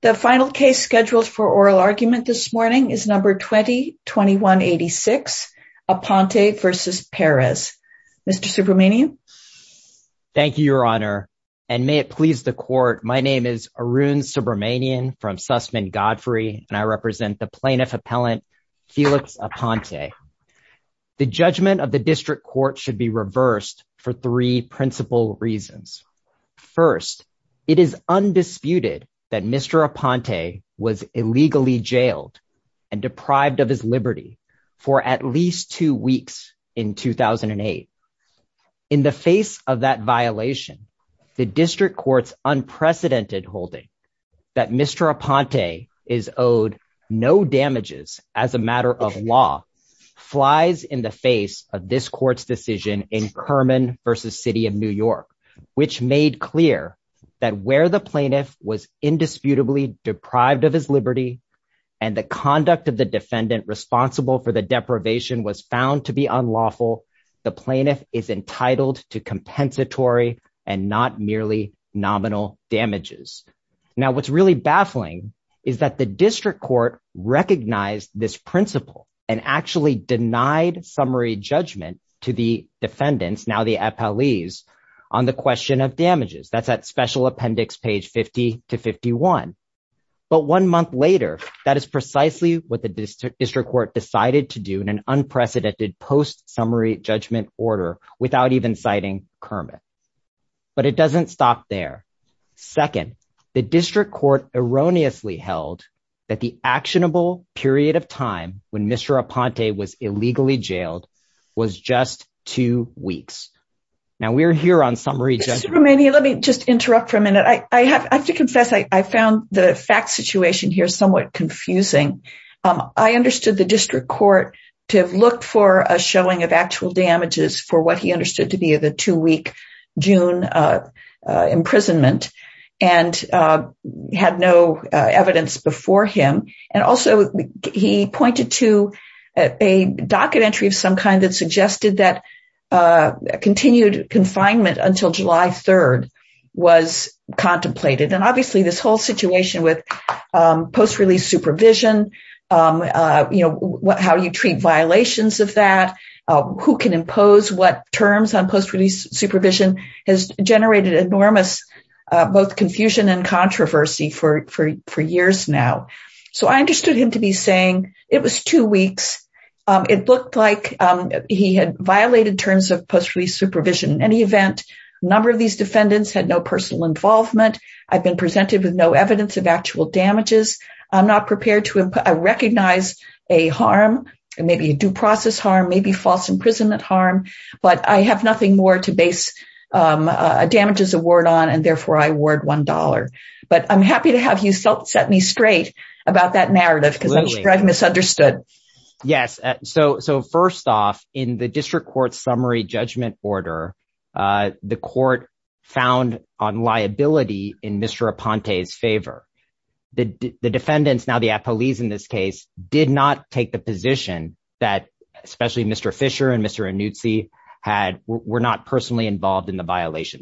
The final case scheduled for oral argument this morning is number 20-2186, Aponte v. Perez. Mr. Subramanian. Thank you, Your Honor, and may it please the court. My name is Arun Subramanian from Sussman Godfrey, and I represent the plaintiff appellant, Felix Aponte. The judgment of the district court should be reversed for three principal reasons. First, it is undisputed that Mr. Aponte was illegally jailed and deprived of his liberty for at least two weeks in 2008. In the face of that violation, the district court's unprecedented holding that Mr. Aponte is owed no damages as a matter of law flies in the face of this court's decision in Kerman v. City of New York, which made clear that where the plaintiff was indisputably deprived of his liberty and the conduct of the defendant responsible for the deprivation was found to be unlawful, the plaintiff is entitled to compensatory and not merely nominal damages. Now, what's really baffling is that the district court recognized this principle and actually denied summary judgment to the police on the question of damages. That's at special appendix page 50 to 51. But one month later, that is precisely what the district court decided to do in an unprecedented post-summary judgment order without even citing Kerman. But it doesn't stop there. Second, the district court erroneously held that the actionable period of time when Mr. Aponte was illegally jailed was just two weeks. Now we're here on summary judgment. Let me just interrupt for a minute. I have to confess I found the fact situation here somewhat confusing. I understood the district court to look for a showing of actual damages for what he understood to be the two-week June imprisonment and had no evidence before him. And also he pointed to a docket entry of some kind that suggested that continued confinement until July 3rd was contemplated. And obviously this whole situation with post-release supervision, how you treat violations of that, who can impose what terms on post-release supervision has generated enormous both confusion and controversy for years now. So I understood him to be saying it was two weeks. It looked like he had violated terms of post-release supervision. In any event, a number of these defendants had no personal involvement. I've been presented with no evidence of actual damages. I'm not prepared to recognize a harm, maybe a due process harm, maybe false imprisonment harm, but I have nothing more to base damages award on and therefore I award $1. But I'm happy to have you set me straight about that narrative because I'm sure I've misunderstood. Yes. So first off, in the district court summary judgment order, the court found on liability in Mr. Aponte's favor. The defendants, now the appellees in this case, did not take the position that especially Mr. Fisher and Mr. Annuzzi were not personally involved in the violation.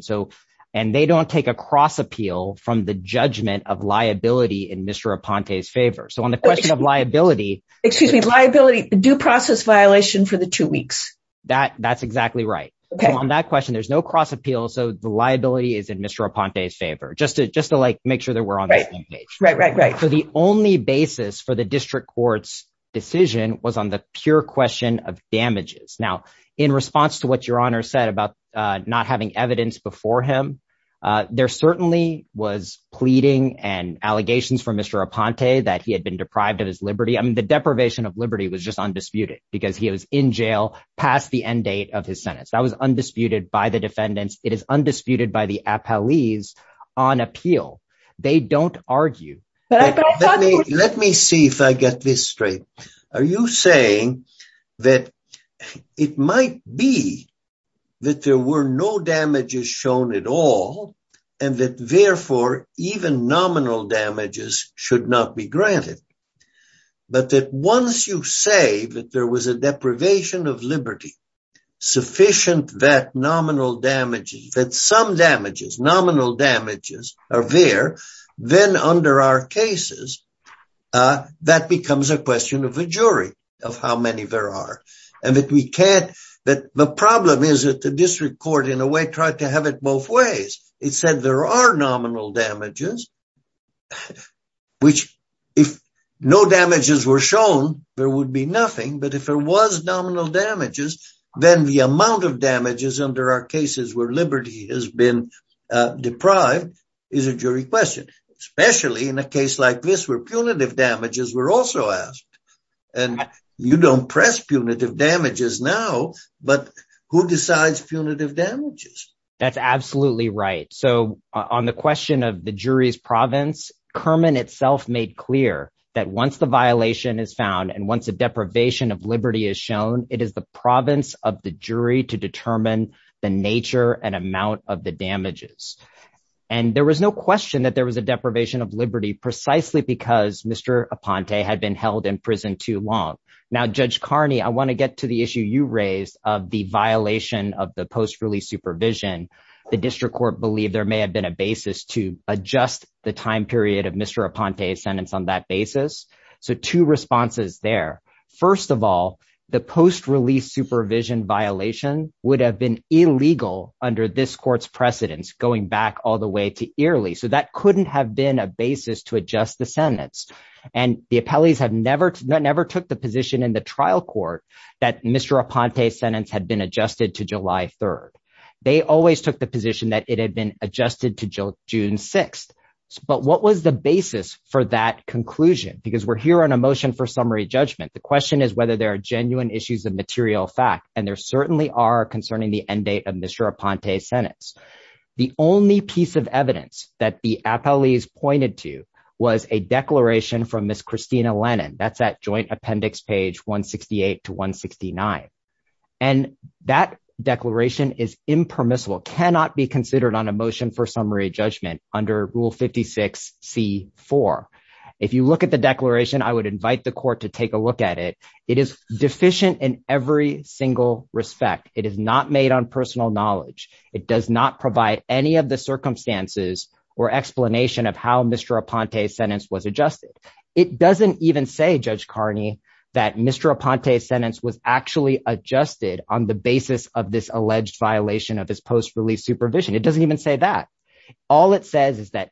And they don't take a cross appeal from the judgment of liability in Mr. Aponte's favor. So on the question of liability, excuse me, liability due process violation for the two weeks. That's exactly right. On that question, there's no cross appeal. So the liability is in Mr. Aponte's favor. Just to like make sure that we're on the same page. So the only basis for the district court's decision was on the pure question of damages. Now, in response to what your honor said about not having evidence before him, there certainly was pleading and allegations from Mr. Aponte that he had been deprived of his Liberty. I mean, the deprivation of Liberty was just undisputed because he was in jail past the end date of his sentence. That was undisputed by the defendants. It is undisputed by the appellees on appeal. They don't argue. Let me see if I get this straight. Are you saying that it might be that there were no damages shown at all and that therefore even nominal damages should not be granted, but that once you say that there was a deprivation of Liberty, sufficient that nominal damages, that some damages, nominal damages are there, then under our cases, that becomes a question of a jury of how many there are and that we can't, that the problem is that the district court in a way tried to have it both ways. It said there are nominal damages, which if no damages were shown, there would be nothing. But if there was nominal damages, then the amount of damages under our cases where Liberty has been deprived is a jury question, especially in a case like this where punitive damages were also asked and you don't press punitive damages now, but who decides punitive damages? That's absolutely right. So on the question of the jury's province, Kerman itself made clear that once the violation is found and once a deprivation of Liberty is shown, it is the province of the jury to determine the nature and amount of the damages. And there was no question that there was a deprivation of Liberty precisely because Mr. Aponte had been held in prison too long. Now, Judge Carney, I want to get to the issue you raised of the The district court believed there may have been a basis to adjust the time period of Mr. Aponte's sentence on that basis. So two responses there. First of all, the post-release supervision violation would have been illegal under this court's precedence going back all the way to early. So that couldn't have been a basis to adjust the sentence and the appellees have never, never took the position in the trial court that Mr. Aponte's sentence had been adjusted to July 3rd. They always took the position that it had been adjusted to June 6th. But what was the basis for that conclusion? Because we're here on a motion for summary judgment. The question is whether there are genuine issues of material fact and there certainly are concerning the end date of Mr. Aponte's sentence. The only piece of evidence that the appellees pointed to was a declaration from Miss Christina Lennon. That's that joint appendix page 168 to 169. And that declaration is impermissible, cannot be considered on a motion for summary judgment under Rule 56 C4. If you look at the declaration, I would invite the court to take a look at it. It is deficient in every single respect. It is not made on personal knowledge. It does not provide any of the circumstances or explanation of how Mr. Aponte's sentence was adjusted. It doesn't even say Judge Carney that Mr. Adjusted on the basis of this alleged violation of his post-release supervision. It doesn't even say that. All it says is that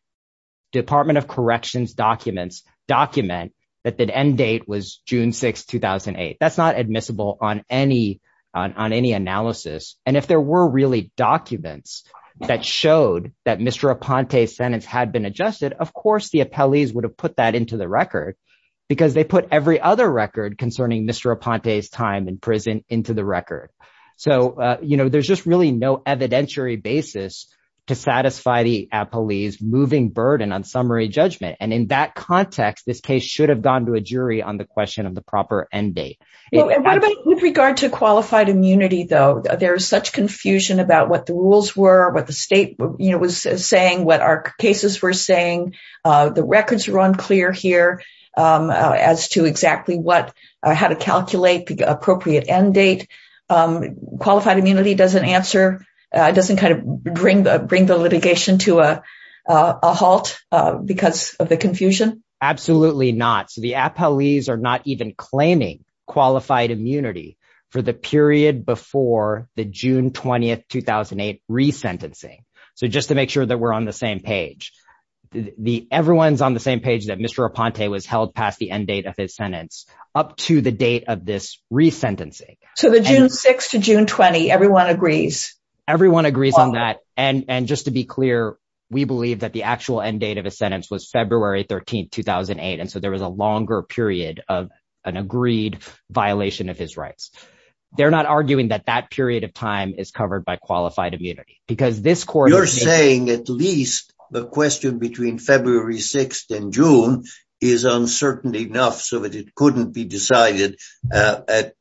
Department of Corrections documents document that the end date was June 6, 2008. That's not admissible on any analysis. And if there were really documents that showed that Mr. Aponte's sentence had been adjusted, of course, the appellees would have put that into the record because they put every other record concerning Mr. Aponte's time in prison into the record. So, you know, there's just really no evidentiary basis to satisfy the appellees moving burden on summary judgment. And in that context, this case should have gone to a jury on the question of the proper end date. With regard to qualified immunity, though, there's such confusion about what the rules were, what the state was saying, what our cases were saying, the records run clear here as to exactly how to calculate the appropriate end date. Qualified immunity doesn't answer, doesn't kind of bring the litigation to a halt because of the confusion? Absolutely not. So the appellees are not even claiming qualified immunity for the period before the June 20, 2008 resentencing. So just to make sure that we're on the same page. Everyone's on the same page that Mr. Aponte was held past the end date of his sentence up to the date of this resentencing. So the June 6 to June 20, everyone agrees? Everyone agrees on that. And just to be clear, we believe that the actual end date of his sentence was February 13, 2008. And so there was a longer period of an agreed violation of his rights. They're not arguing that that period of time is covered by qualified immunity. You're saying at least the question between February 6th and June is uncertain enough so that it couldn't be decided at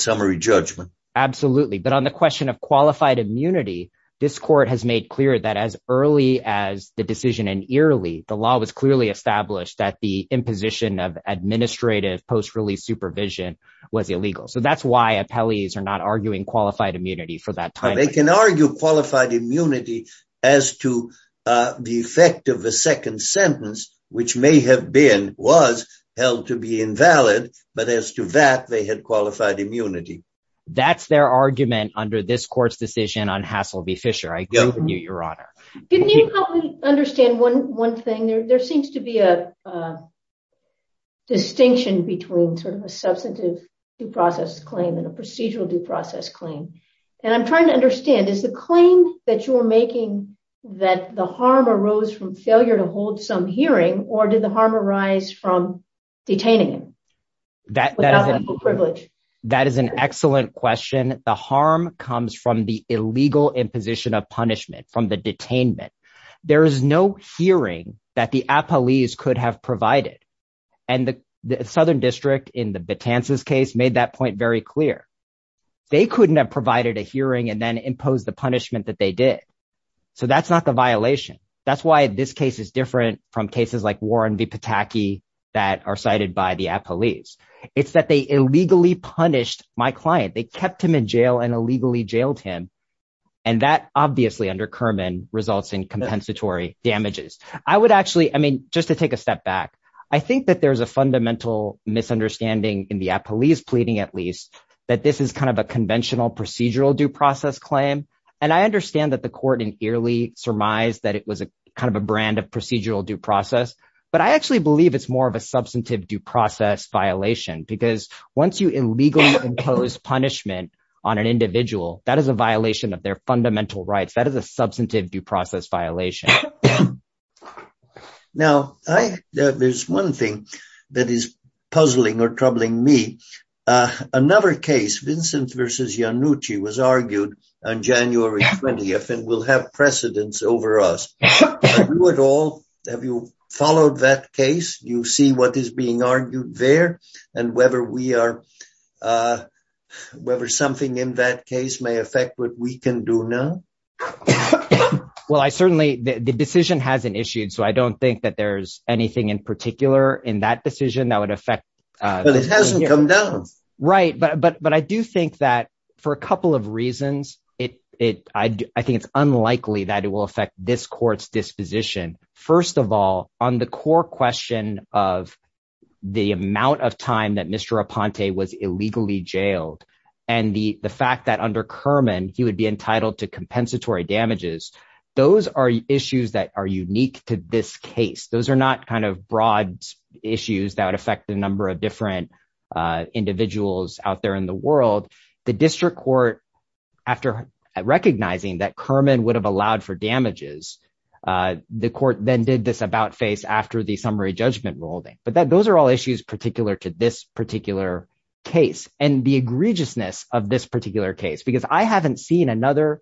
summary judgment. Absolutely. But on the question of qualified immunity, this court has made clear that as early as the decision in Early, the law was clearly established that the imposition of administrative post-release supervision was illegal. So that's why appellees are not arguing qualified immunity for that time. They can argue qualified immunity as to the effect of the second sentence, which may have been, was, held to be invalid, but as to that they had qualified immunity. That's their argument under this court's decision on Hasselby Fisher. I agree with you, Your Honor. Can you help me understand one thing? There seems to be a distinction between sort of a substantive due process claim and a procedural due process claim. And I'm trying to understand, is the claim that you're making that the harm arose from failure to hold some hearing or did the harm arise from detaining him? That is an excellent question. The harm comes from the illegal imposition of punishment from the detainment. There is no hearing that the appellees could have provided and the Southern District in the Betances case made that point very clear. They couldn't have provided a hearing and then impose the punishment that they did. So that's not the violation. That's why this case is different from cases like Warren v. Pataki that are cited by the appellees. It's that they illegally punished my client. They kept him in jail and illegally jailed him. And that obviously under Kerman results in compensatory damages. I would actually, I mean, just to take a step back. I think that there's a fundamental misunderstanding in the appellees pleading, at least, that this is kind of a conventional procedural due process claim. And I understand that the court in Eerly surmised that it was a kind of a brand of procedural due process. But I actually believe it's more of a substantive due process violation because once you illegally impose punishment on an individual, that is a violation of their fundamental rights. That is a substantive due process violation. Now, there's one thing that is puzzling or troubling me. Another case, Vincent v. Iannucci, was argued on January 20th and will have precedence over us. Have you followed that case? You see what is being argued there and whether we are, whether something in that case may affect what we can do now? Well, I certainly, the decision hasn't issued, so I don't think that there's anything in particular in that decision that would affect. But it hasn't come down. Right, but I do think that for a couple of reasons, I think it's unlikely that it will affect this court's disposition. First of all, on the core question of the amount of time that Mr. Raponte was illegally jailed and the fact that under Kerman, he would be entitled to compensatory damages. Those are issues that are unique to this case. Those are not kind of broad issues that would affect the number of different individuals out there in the world. The district court, after recognizing that Kerman would have allowed for damages, the court then did this about-face after the summary judgment ruling. But those are all issues particular to this particular case and the another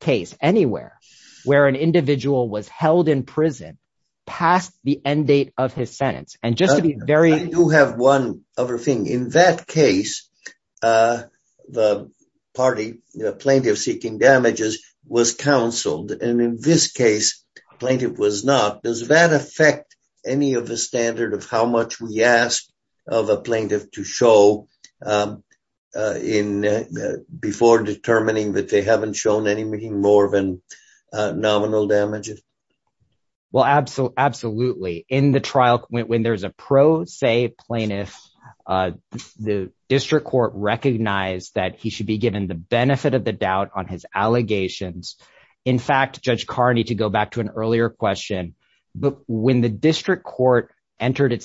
case anywhere where an individual was held in prison past the end date of his sentence. And just to be very- I do have one other thing. In that case, the party, the plaintiff seeking damages, was counseled. And in this case, the plaintiff was not. Does that affect any of the standard of how much we ask of a plaintiff to show before determining that they haven't shown any more than nominal damages? Well, absolutely. In the trial, when there's a pro se plaintiff, the district court recognized that he should be given the benefit of the doubt on his allegations. In fact, Judge Carney, to go back to an earlier question, when the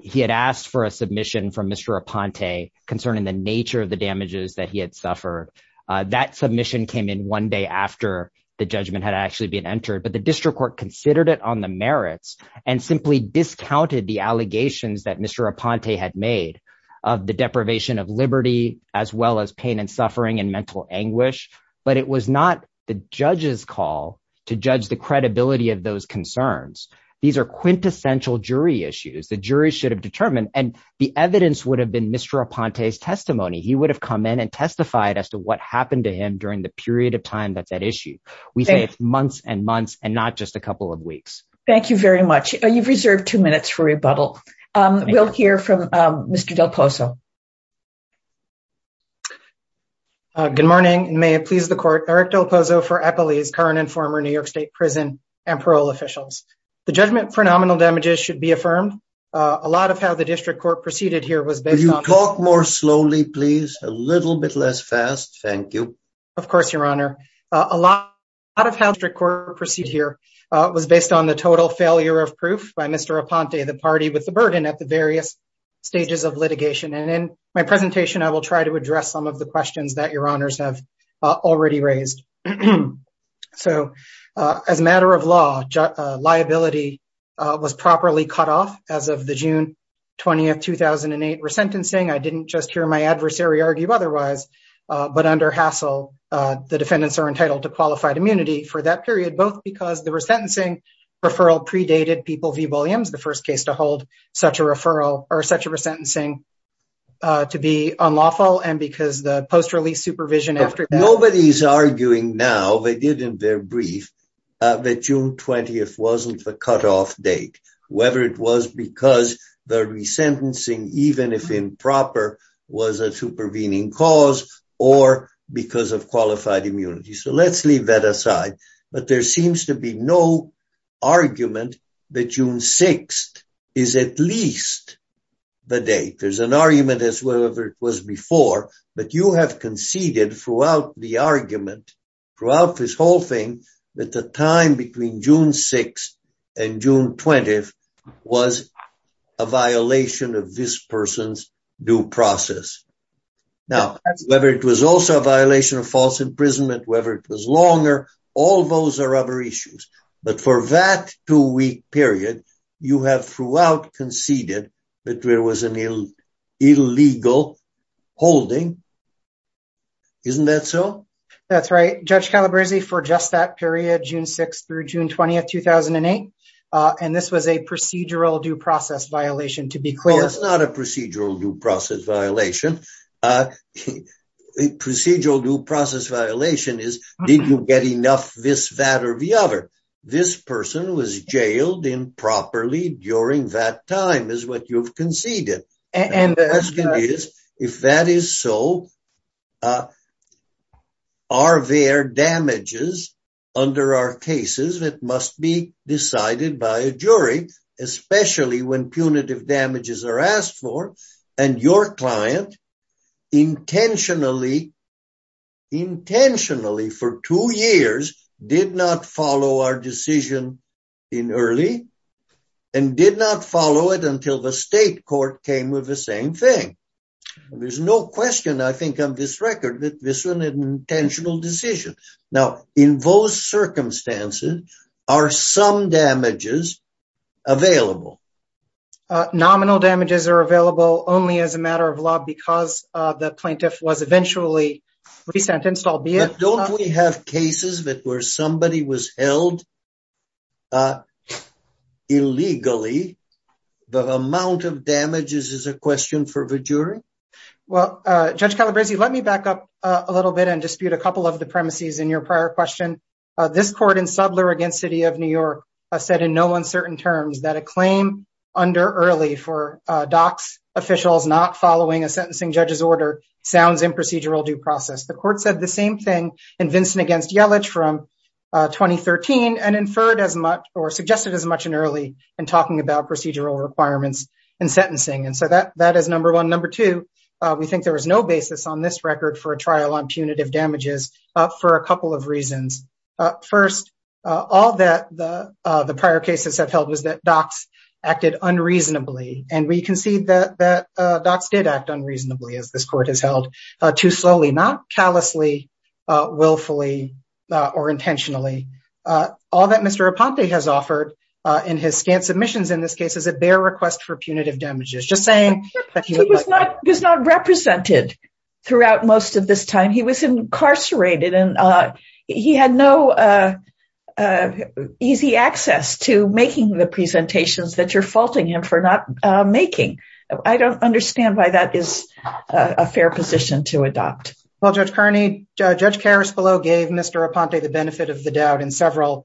he had asked for a submission from Mr. Aponte concerning the nature of the damages that he had suffered, that submission came in one day after the judgment had actually been entered. But the district court considered it on the merits and simply discounted the allegations that Mr. Aponte had made of the deprivation of liberty, as well as pain and suffering and mental anguish. But it was not the judge's call to judge the credibility of those concerns. These are quintessential jury issues. The jury should have determined and the evidence would have been Mr. Aponte's testimony. He would have come in and testified as to what happened to him during the period of time that's at issue. We say it's months and months and not just a couple of weeks. Thank you very much. You've reserved two minutes for rebuttal. We'll hear from Mr. Del Pozo. Good morning. May it please the court. Eric Del Pozo for Eppley's current and former New York State prison and parole officials. The judgment for nominal damages should be affirmed. A lot of how the district court proceeded here was based on- Could you talk more slowly, please? A little bit less fast. Thank you. Of course, your honor. A lot of how the district court proceeded here was based on the total failure of proof by Mr. Aponte, the party with the burden at the various stages of litigation. And in my presentation, I will try to address some of the questions that your honors have already raised. So, as a matter of law, liability was properly cut off as of the June 20th, 2008, resentencing. I didn't just hear my adversary argue otherwise, but under hassle, the defendants are entitled to qualified immunity for that period, both because the resentencing referral predated people v. Williams, the first case to hold such a referral or such a resentencing to be unlawful, and because the post-release supervision after- Nobody's arguing now, they did in their brief, that June 20th wasn't the cutoff date, whether it was because the resentencing, even if improper, was a supervening cause or because of qualified immunity. So, let's leave that aside. But there seems to be no argument that June 6th is at least the date. There's an argument as whatever it was before, but you have conceded throughout the argument, throughout this whole thing, that the time between June 6th and June 20th was a violation of this person's due process. Now, whether it was also a violation of false imprisonment, whether it was longer, all those are other issues. But for that two-week period, you have throughout conceded that there was an illegal holding. Isn't that so? That's right. Judge Calabresi, for just that period, June 6th through June 20th, 2008, and this was a procedural due process violation, to be clear. Well, it's not a procedural due process violation. Procedural due process violation is, did you get enough this, that, or the other? This person was jailed improperly during that time, is what you've conceded. And the question is, if that is so, are there damages under our cases that must be decided by a jury, especially when punitive damages are asked for, and your client intentionally, intentionally for two years, did not follow our decision in early, and did not follow it until the state court came with the same thing? There's no question, I think, on this record that this was an intentional decision. Now, in those circumstances, are some damages available? Nominal damages are available only as a matter of law because the plaintiff was eventually re-sentenced, albeit- But don't we have cases that where somebody was held illegally, the amount of damages is a question for the jury? Well, Judge Calabresi, let me back up a little bit and dispute a couple of the premises in your prior question. This court in Subler against City of New York said in no uncertain terms that a claim under early for DOCS officials not following a sentencing judge's order sounds in procedural due process. The court said the same thing in Vincent against Yellich from 2013, and inferred as much or suggested as much in early in talking about procedural requirements and sentencing. And so that is number one. Number two, we think there was no basis on this record for a trial on punitive damages for a couple of reasons. First, all that the prior cases have held was that DOCS acted unreasonably, and we concede that DOCS did act unreasonably as this court has held, too slowly, not callously, willfully, or intentionally. All that Mr. Raponte has offered in his scant submissions in this case is a bare request for punitive damages. Just saying- He was not represented throughout most of this time. He was incarcerated, and he had no easy access to making the presentations that you're faulting him for not making. I don't understand why that is a fair position to adopt. Well, Judge Kearney, Judge Karaspolo gave Mr. Raponte the benefit of the doubt in several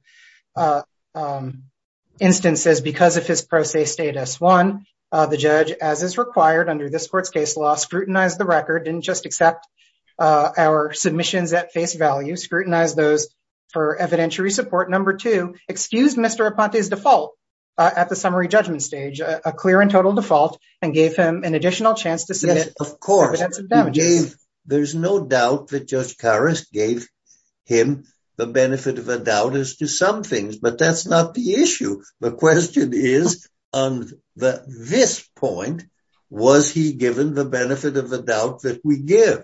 instances because of his pro se status. One, the judge, as is required under this court's case law, scrutinized the record, didn't just accept our submissions at face value, scrutinized those for evidentiary support. Number two, excused Mr. Raponte's default at the summary judgment stage, a clear and total default, and gave him an additional chance to submit- Yes, of course. There's no doubt that Judge Karasp gave him the benefit of a doubt as to some things, but that's not the issue. The question is, on this point, was he given the benefit of the doubt that we give?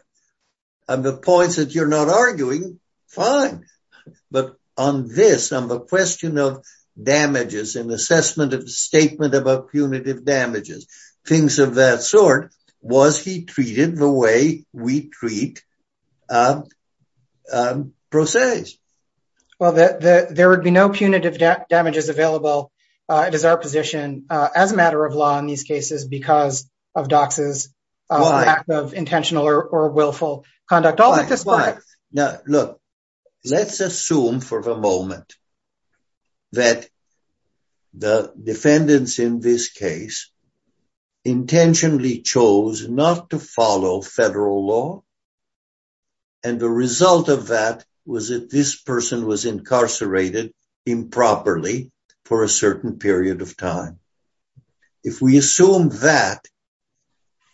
On the points that you're not arguing, fine, but on this, on the question of damages and assessment of the statement about punitive damages, things of that sort, was he treated the way we treat pro ses? Well, there would be no punitive damages available. It is our position, as a matter of law in these cases, because of DOCS's lack of intentional or willful conduct. Why? Why? Why? Now, look, let's assume for the moment that the defendants in this case intentionally chose not to follow federal law, and the result of that was that this person was incarcerated improperly for a certain period of time. If we assume that,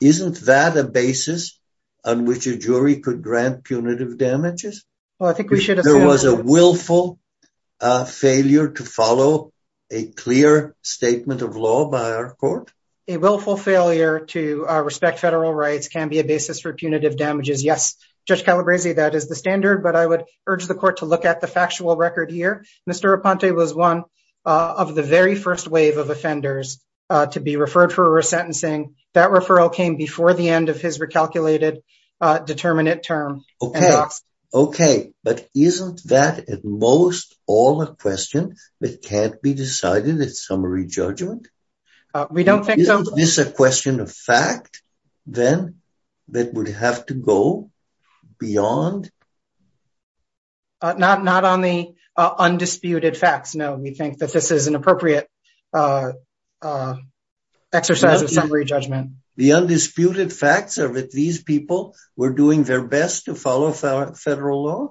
isn't that a basis on which a jury could grant punitive damages? Well, I think we should assume- If there was a willful failure to follow a clear statement of law by our court? A willful failure to respect federal rights can be a basis for punitive damages. Yes, Judge Calabresi, that is the standard, but I would urge the court to look at the factual record here. Mr. Raponte was one of the very first wave of offenders to be referred for resentencing. That referral came before the end of his recalculated determinate term. Okay. Okay. But isn't that at most all a question that can't be decided at summary judgment? We don't think so. Is this a question of fact, then, that would have to go beyond- Not on the undisputed facts. No, we think that this is an appropriate exercise of summary judgment. The undisputed facts are that these people were doing their best to follow federal law?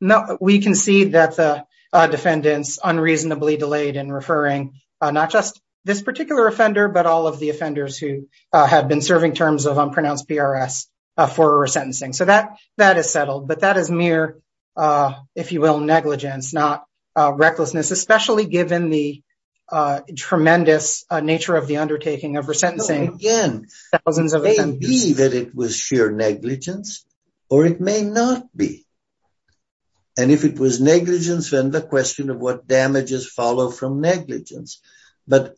No, we can see that the defendants unreasonably delayed in referring not just this particular offender, but all of the offenders who had been serving terms of unpronounced PRS for resentencing. So that is settled. But that is mere, if you will, negligence, not recklessness, especially given the tremendous nature of the undertaking of resentencing. Again, it may be that it was sheer negligence, or it may not be. And if it was negligence, then the question of what damages follow from negligence. But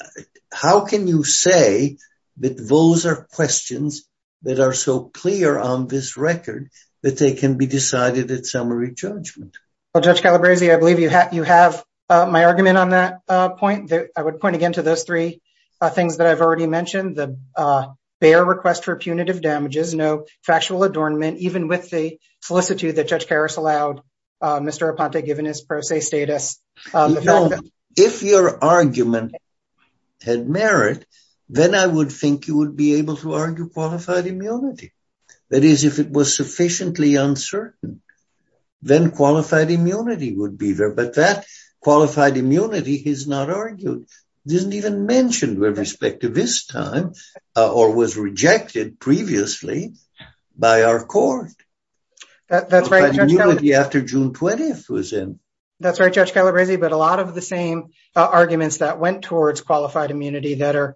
how can you say that those are questions that are so clear on this record that they can be decided at summary judgment? Well, Judge Calabresi, I believe you have my argument on that point. I would point again to those three things that I've already mentioned. The bare request for punitive damages, no factual adornment, even with the solicitude that Judge Karras allowed Mr. Raponte given his pro se status. No, if your argument had merit, then I would think you would be able to argue qualified immunity. That is, if it was sufficiently uncertain, then qualified immunity would be there. But that qualified immunity is not argued. It isn't even mentioned with respect to this time, or was rejected previously by our court. That's right, Judge Calabresi. After June 20th was in. That's right, Judge Calabresi. But a lot of the same arguments that went towards qualified immunity that are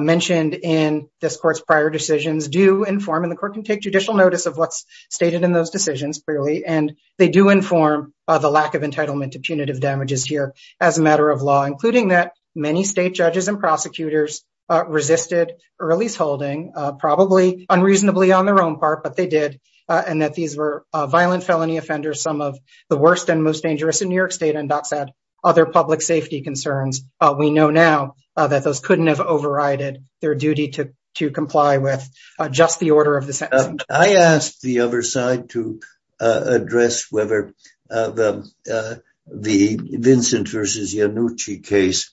mentioned in this court's prior decisions do inform and the court can take judicial notice of what's stated in those decisions clearly. And they do inform the lack of entitlement to punitive damages here as a matter of law, including that many state judges and prosecutors resisted early holding, probably unreasonably on their own part, but they did. And that these were violent felony offenders, some of the worst and most dangerous in New York State, and docks had other public safety concerns. We know now that those couldn't have overrided their duty to comply with just the order of the sentence. I asked the other side to address whether the Vincent vs. Iannucci case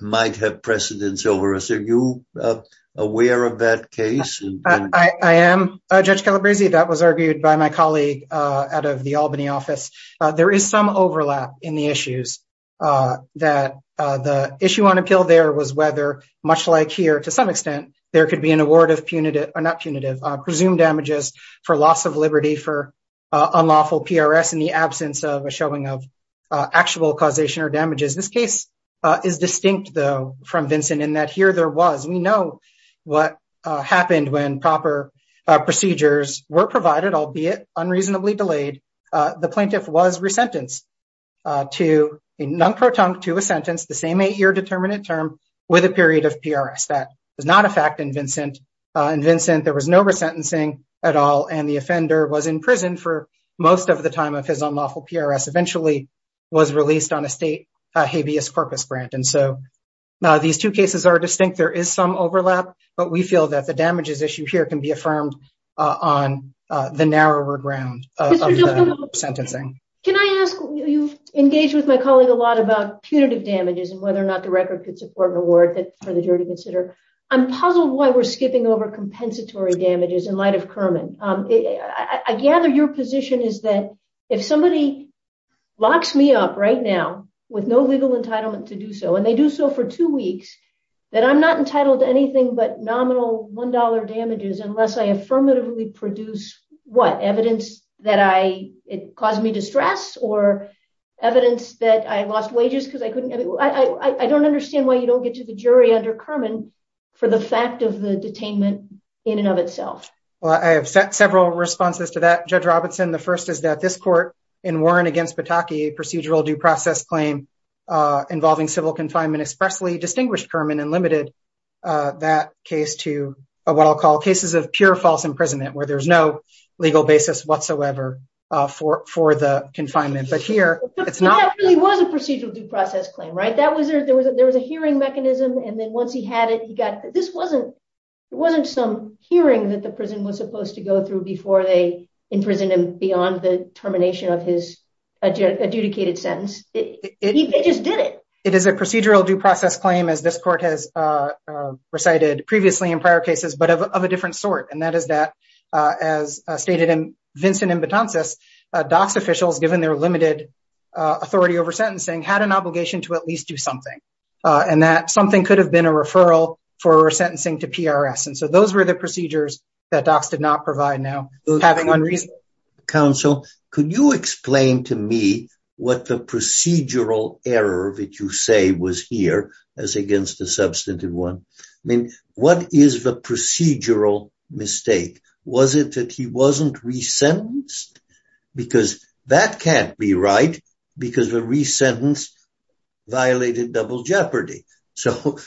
might have precedence over us. Are you aware of that case? I am, Judge Calabresi. That was argued by my colleague out of the Albany office. There is some overlap in the issues that the issue on appeal there was whether, much like here to some extent, there could be an award of punitive, or not punitive, presumed damages for loss of liberty for unlawful PRS in the absence of a showing of actual causation or damages. This case is distinct, though, from Vincent in that here there was, we know what happened when proper procedures were provided, albeit unreasonably delayed. The plaintiff was resentenced to a non-proton to a sentence, the same eight-year determinate term with a period of PRS. That was not a fact in Vincent. In Vincent, there was no resentencing at all, and the offender was in prison for most of the time of his unlawful PRS, eventually was released on a state habeas corpus grant. And so these two cases are distinct. There is some overlap, but we feel that the damages issue here can be affirmed on the narrower ground of the sentencing. Can I ask, you've engaged with my colleague a lot about punitive damages and whether or not the record could support an award for the jury to consider. I'm puzzled why we're skipping over compensatory damages in light of Kerman. I gather your position is that if somebody locks me up right now with no legal entitlement to do so, and they do so for two weeks, that I'm not entitled to anything but nominal $1 damages unless I affirmatively produce what? Evidence that it caused me distress or evidence that I lost wages because I couldn't... I don't understand why you don't get to the jury under Kerman for the fact of the detainment in and of itself. Well, I have several responses to that, Judge Robinson. The first is that this court in Warren against Pataki, a procedural due process claim involving civil confinement, expressly distinguished Kerman and limited that case to what I'll call cases of pure false imprisonment where there's no legal basis whatsoever for the confinement. But here, it's not... But that really was a procedural due process claim, right? There was a hearing mechanism and then once he had it, he got... this wasn't some hearing that the prison was supposed to go through before they imprisoned him beyond the termination of his adjudicated sentence. They just did it. It is a procedural due process claim as this court has recited previously in prior cases, but of a different sort. And that is that, as stated in Vincent Imbotensis, DOCS officials, given their limited authority over sentencing, had an obligation to at least do something and that something could have been a referral for sentencing to PRS. And so those were the procedures that DOCS did not provide now, having unreasonable... Counsel, could you explain to me what the procedural error that you say was here as against the substantive one? I mean, what is the procedural mistake? Was it that he wasn't re-sentenced? Because that can't be right because the re-sentence violated double jeopardy. So,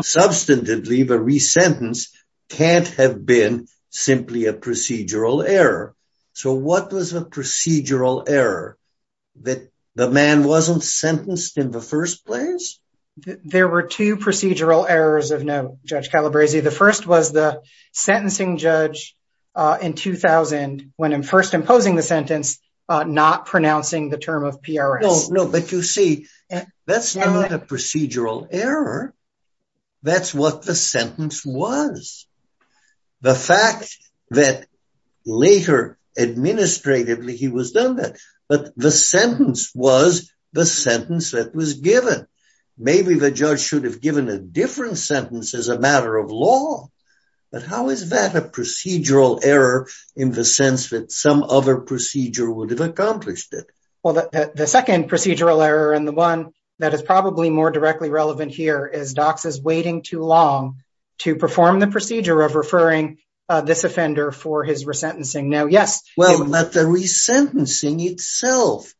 substantively, the re-sentence can't have been simply a procedural error. So what was the procedural error? That the man wasn't sentenced in the first place? There were two procedural errors of note, Judge Calabresi. The first was the sentencing judge in 2000, when first imposing the sentence, not pronouncing the term of PRS. No, but you see, that's not a procedural error. That's what the sentence was. The fact that later, administratively, he was done that. But the sentence was the sentence that was given. Maybe the judge should have given a different sentence as a matter of law. But how is that a procedural error in the sense that some other procedure would have accomplished it? Well, the second procedural error, and the one that is probably more directly relevant here, is Dox is waiting too long to perform the procedure of referring this offender for his re-sentencing. Now, yes— Well, but the re-sentencing itself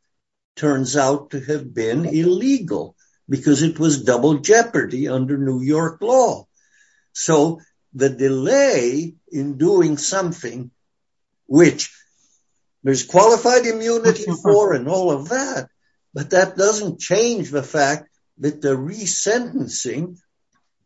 turns out to have been illegal because it was double jeopardy under New York law. So the delay in doing something, which there's qualified immunity for and all of that, but that doesn't change the fact that the re-sentencing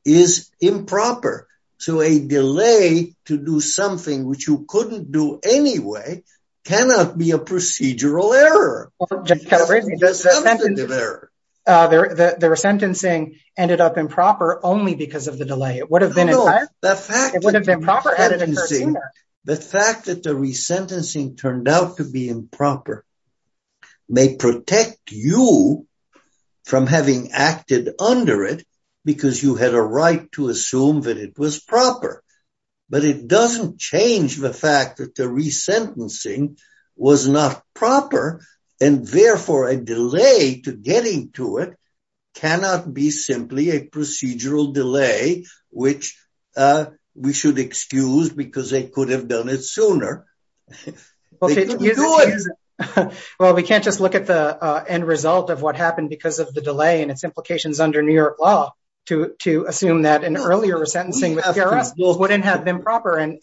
is improper. So a delay to do something which you couldn't do anyway cannot be a procedural error. Well, Judge Calabresi, the re-sentencing ended up improper only because of the delay. It would have been— No, the fact that the re-sentencing— The fact that the re-sentencing turned out to be improper may protect you from having acted under it because you had a right to assume that it was proper. But it doesn't change the fact that the re-sentencing was not proper, and therefore a delay to getting to it cannot be simply a procedural delay, Well, we can't just look at the end result of what happened because of the delay and its implications under New York law to assume that an earlier re-sentencing with PRS wouldn't have been proper and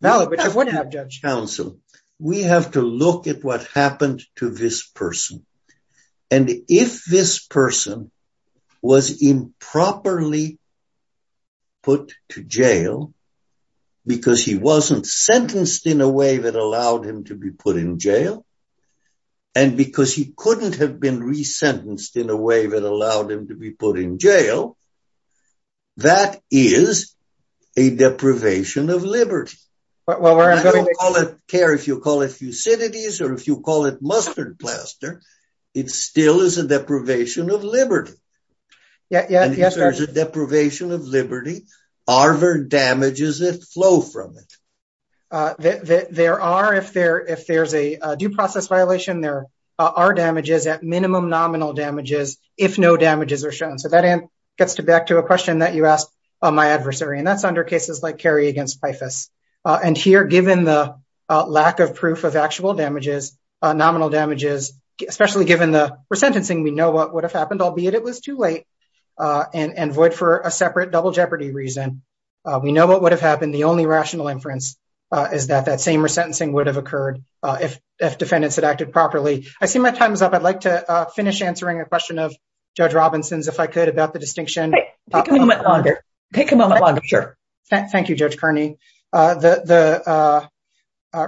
valid, which it wouldn't have, Judge. Counsel, we have to look at what happened to this person. And if this person was improperly put to jail because he wasn't sentenced in a way that allowed him to be put in jail and because he couldn't have been re-sentenced in a way that allowed him to be put in jail, that is a deprivation of liberty. Well, we're— You don't call it care if you call it Thucydides or if you call it mustard plaster. It still is a deprivation of liberty. Yes, Judge. If there's a deprivation of liberty, are there damages that flow from it? There are. If there's a due process violation, there are damages at minimum nominal damages if no damages are shown. So that gets back to a question that you asked my adversary, and that's under cases like Kerry against Pifus. And here, given the lack of proof of actual damages, nominal damages, especially given the re-sentencing, we know what would have happened, albeit it was too late. And void for a separate double jeopardy reason, we know what would have happened. The only rational inference is that that same re-sentencing would have occurred if defendants had acted properly. I see my time is up. I'd like to finish answering a question of Judge Robinson's, if I could, about the distinction. Take a moment longer. Take a moment longer, sure. Thank you, Judge Kearney. The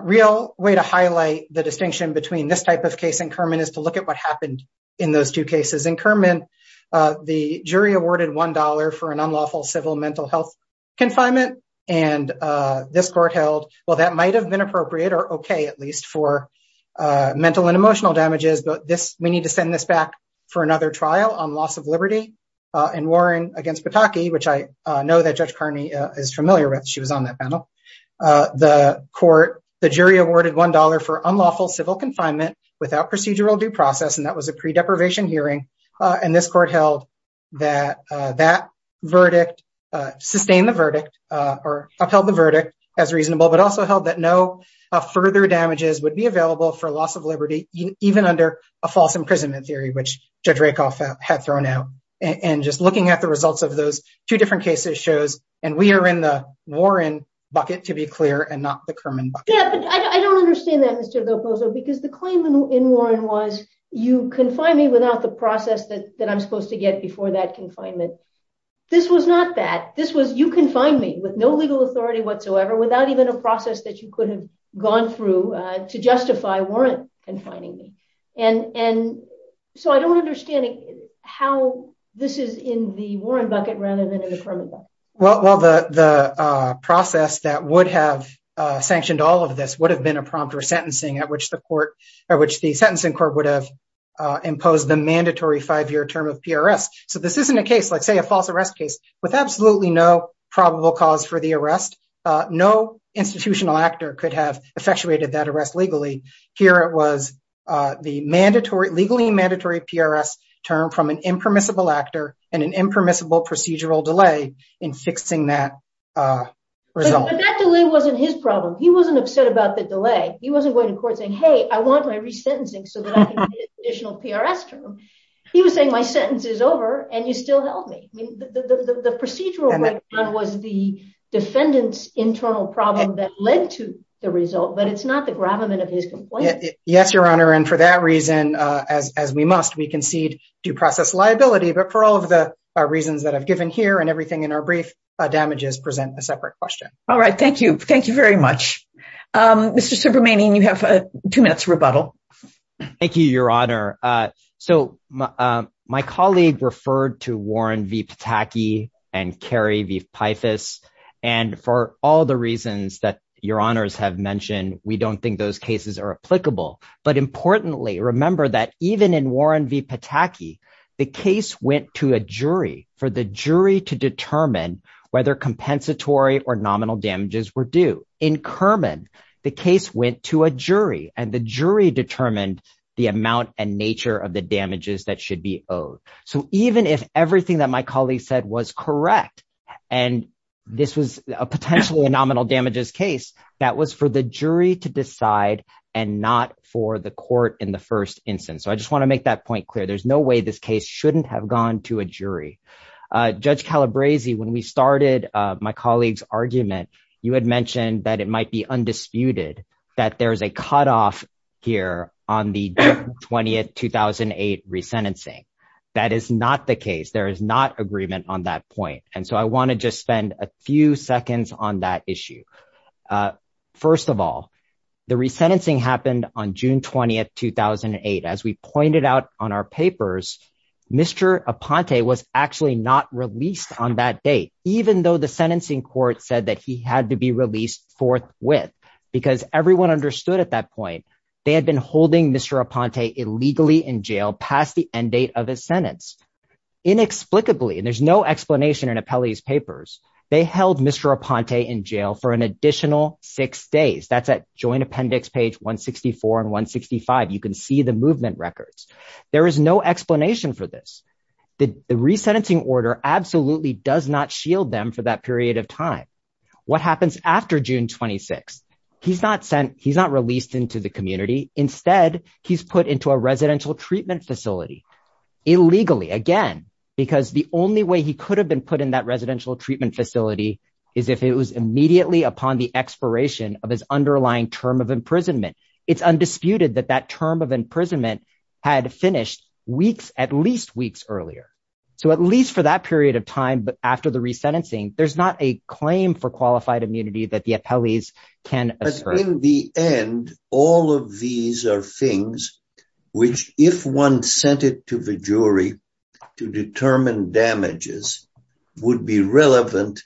real way to highlight the distinction between this type of case and Kerman is to look at what happened in those two cases. In Kerman, the jury awarded $1 for an unlawful civil mental health confinement, and this court held, well, that might have been appropriate, or okay at least, for mental and emotional damages, but we need to send this back for another trial on loss of liberty. In Warren against Pataki, which I know that Judge Kearney is familiar with. She was on that panel. The court, the jury awarded $1 for unlawful civil confinement without procedural due process, and that was a pre-deprivation hearing, and this court held that that verdict, sustained the verdict, or upheld the verdict as reasonable, but also held that no further damages would be available for loss of liberty even under a false imprisonment theory, which Judge Rakoff had thrown out. And just looking at the results of those two different cases shows, and we are in the Warren bucket, to be clear, and not the Kerman bucket. Yeah, but I don't understand that, Mr. Loposo, because the claim in Warren was you confine me without the process that I'm supposed to get before that confinement. This was not that. This was you confine me with no legal authority whatsoever without even a process that you could have gone through to justify Warren confining me. And so I don't understand how this is in the Warren bucket rather than in the Kerman bucket. Well, the process that would have sanctioned all of this would have been a prompt for sentencing at which the Sentencing Court would have imposed the mandatory five-year term of PRS. So this isn't a case, like, say, a false arrest case with absolutely no probable cause for the arrest. No institutional actor could have effectuated that arrest legally. Here it was the legally mandatory PRS termed from an impermissible actor and an impermissible procedural delay in fixing that result. But that delay wasn't his problem. He wasn't upset about the delay. He wasn't going to court saying, hey, I want my resentencing so that I can get an additional PRS term. He was saying my sentence is over and you still held me. The procedural breakdown was the defendant's internal problem that led to the result, but it's not the gravamen of his complaint. Yes, Your Honor, and for that reason, as we must, we concede due process liability, but for all of the reasons that I've given here and everything in our brief, damages present a separate question. All right. Thank you. Thank you very much. Mr. Subramanian, you have two minutes rebuttal. Thank you, Your Honor. My colleague referred to Warren v. Pataki and Kerry v. Pythas and for all the reasons that Your Honors have mentioned, we don't think those cases are applicable. But importantly, remember that even in Warren v. Pataki, the case went to a jury for the jury to determine whether compensatory or nominal damages were due. In Kerman, the case went to a jury and the jury determined the amount and nature of the damages that should be owed. So even if everything that my colleague said was correct and this was potentially a nominal damages case, that was for the jury to decide and not for the court in the first instance. So I just want to make that point clear. There's no way this case shouldn't have gone to a jury. Judge Calabresi, when we started my colleague's argument, you had mentioned that it might be undisputed that there's a cutoff here on the June 20, 2008 resentencing. That is not the case. There is not agreement on that point. And so I want to just spend a few seconds on that issue. First of all, the resentencing happened on June 20, 2008. As we pointed out on our papers, Mr. Aponte was actually not released on that date, even though the sentencing court said that he had to be released forthwith because everyone understood at that point they had been holding Mr. Aponte illegally in jail past the end date of his sentence. Inexplicably, and there's no explanation in Apelli's papers, they held Mr. Aponte in jail for an additional six days. That's at joint appendix page 164 and 165. You can see the movement of the records. There is no explanation for this. The resentencing order absolutely does not shield them for that period of time. What happens after June 26? He's not released into the community. Instead, he's put into a residential treatment facility illegally, again, because the only way he could have been put in that residential treatment facility is if it was immediately upon the expiration of his underlying term of imprisonment. It's undisputed that that term of imprisonment had finished at least weeks earlier. At least for that period of time after the resentencing, there's not a claim for qualified immunity that the Apellis can assert. In the end, all of these are things which if one sent it to the jury to determine damages, would be relevant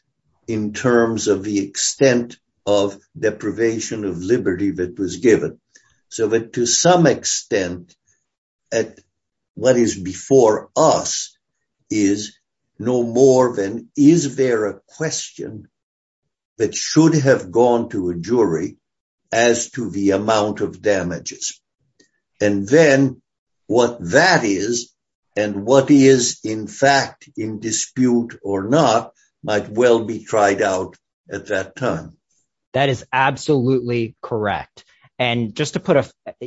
in terms of the extent of deprivation of liberty that was given. To some extent, what is before us is no more than is there a question that should have gone to a jury as to the amount of damages? Then, what that is and what is, in fact, in dispute or not, might well be tried out at that time. That is absolutely correct. I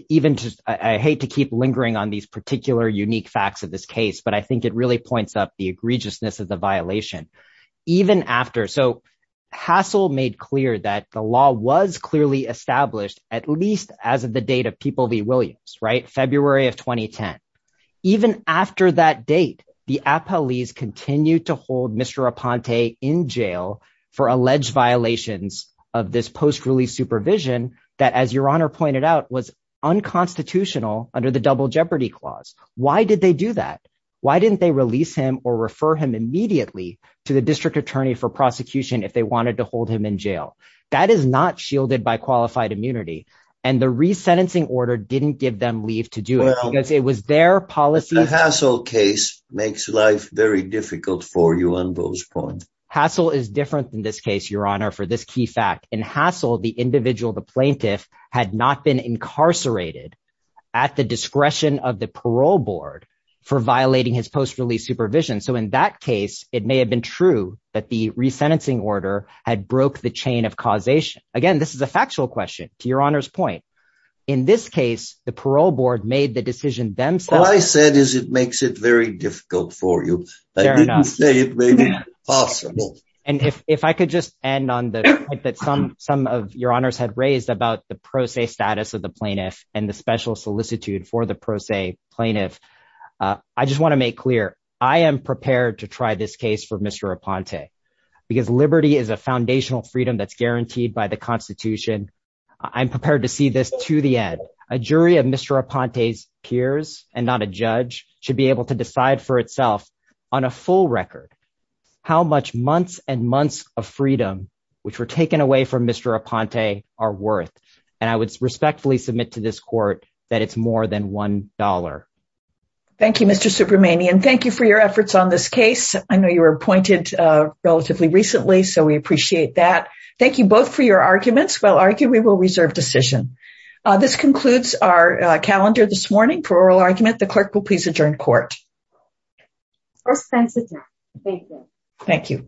hate to keep lingering on these particular unique facts of this case, but I think it really points up the egregiousness of the violation. Even after... Hassel made clear that the law was clearly established at least as of the date of People v. Williams, February of 2010. Even after that date, the Apellis continued to hold Mr. Aponte in jail for alleged violations of this post-release supervision that, as Your Honor pointed out, was unconstitutional under the Double Jeopardy Clause. Why did they do that? Why didn't they release him or refer him immediately to the district attorney for prosecution if they wanted to hold him in jail? That is not shielded by qualified immunity. The resentencing order didn't give them leave to do it because it was their policy... The Hassel case makes life very difficult for you on those points. Hassel is different than this case, Your Honor, for this key fact. In Hassel, the individual, the plaintiff, had not been incarcerated at the discretion of the parole board for violating his post-release supervision. So in that case, it may have been true that the resentencing order had broke the chain of causation. Again, this is a factual question, to Your Honor's point. In this case, the parole board made the decision themselves. All I said is it makes it very difficult for you. They didn't say it made it impossible. And if I could just end on the point that some of Your Honors had raised about the pro se status of the plaintiff and the special solicitude for the pro se plaintiff, I just want to make clear, I am prepared to try this case for Mr. Raponte because liberty is a foundational freedom that's guaranteed by the Constitution. the end. A jury of Mr. Raponte's peers and not a judge should be able to decide for itself on a full record how much months and months of freedom, which were taken away from Mr. Raponte, are worth. And I would respectfully submit to this court that it's more than $1. Thank you, Mr. Subramanian. Thank you for your efforts on this case. I know you were appointed relatively recently, so we appreciate that. Thank you both for your arguments. We will reserve decision. This concludes our calendar hearing this morning. For oral argument, the clerk will please adjourn court. Thank you. Thank you.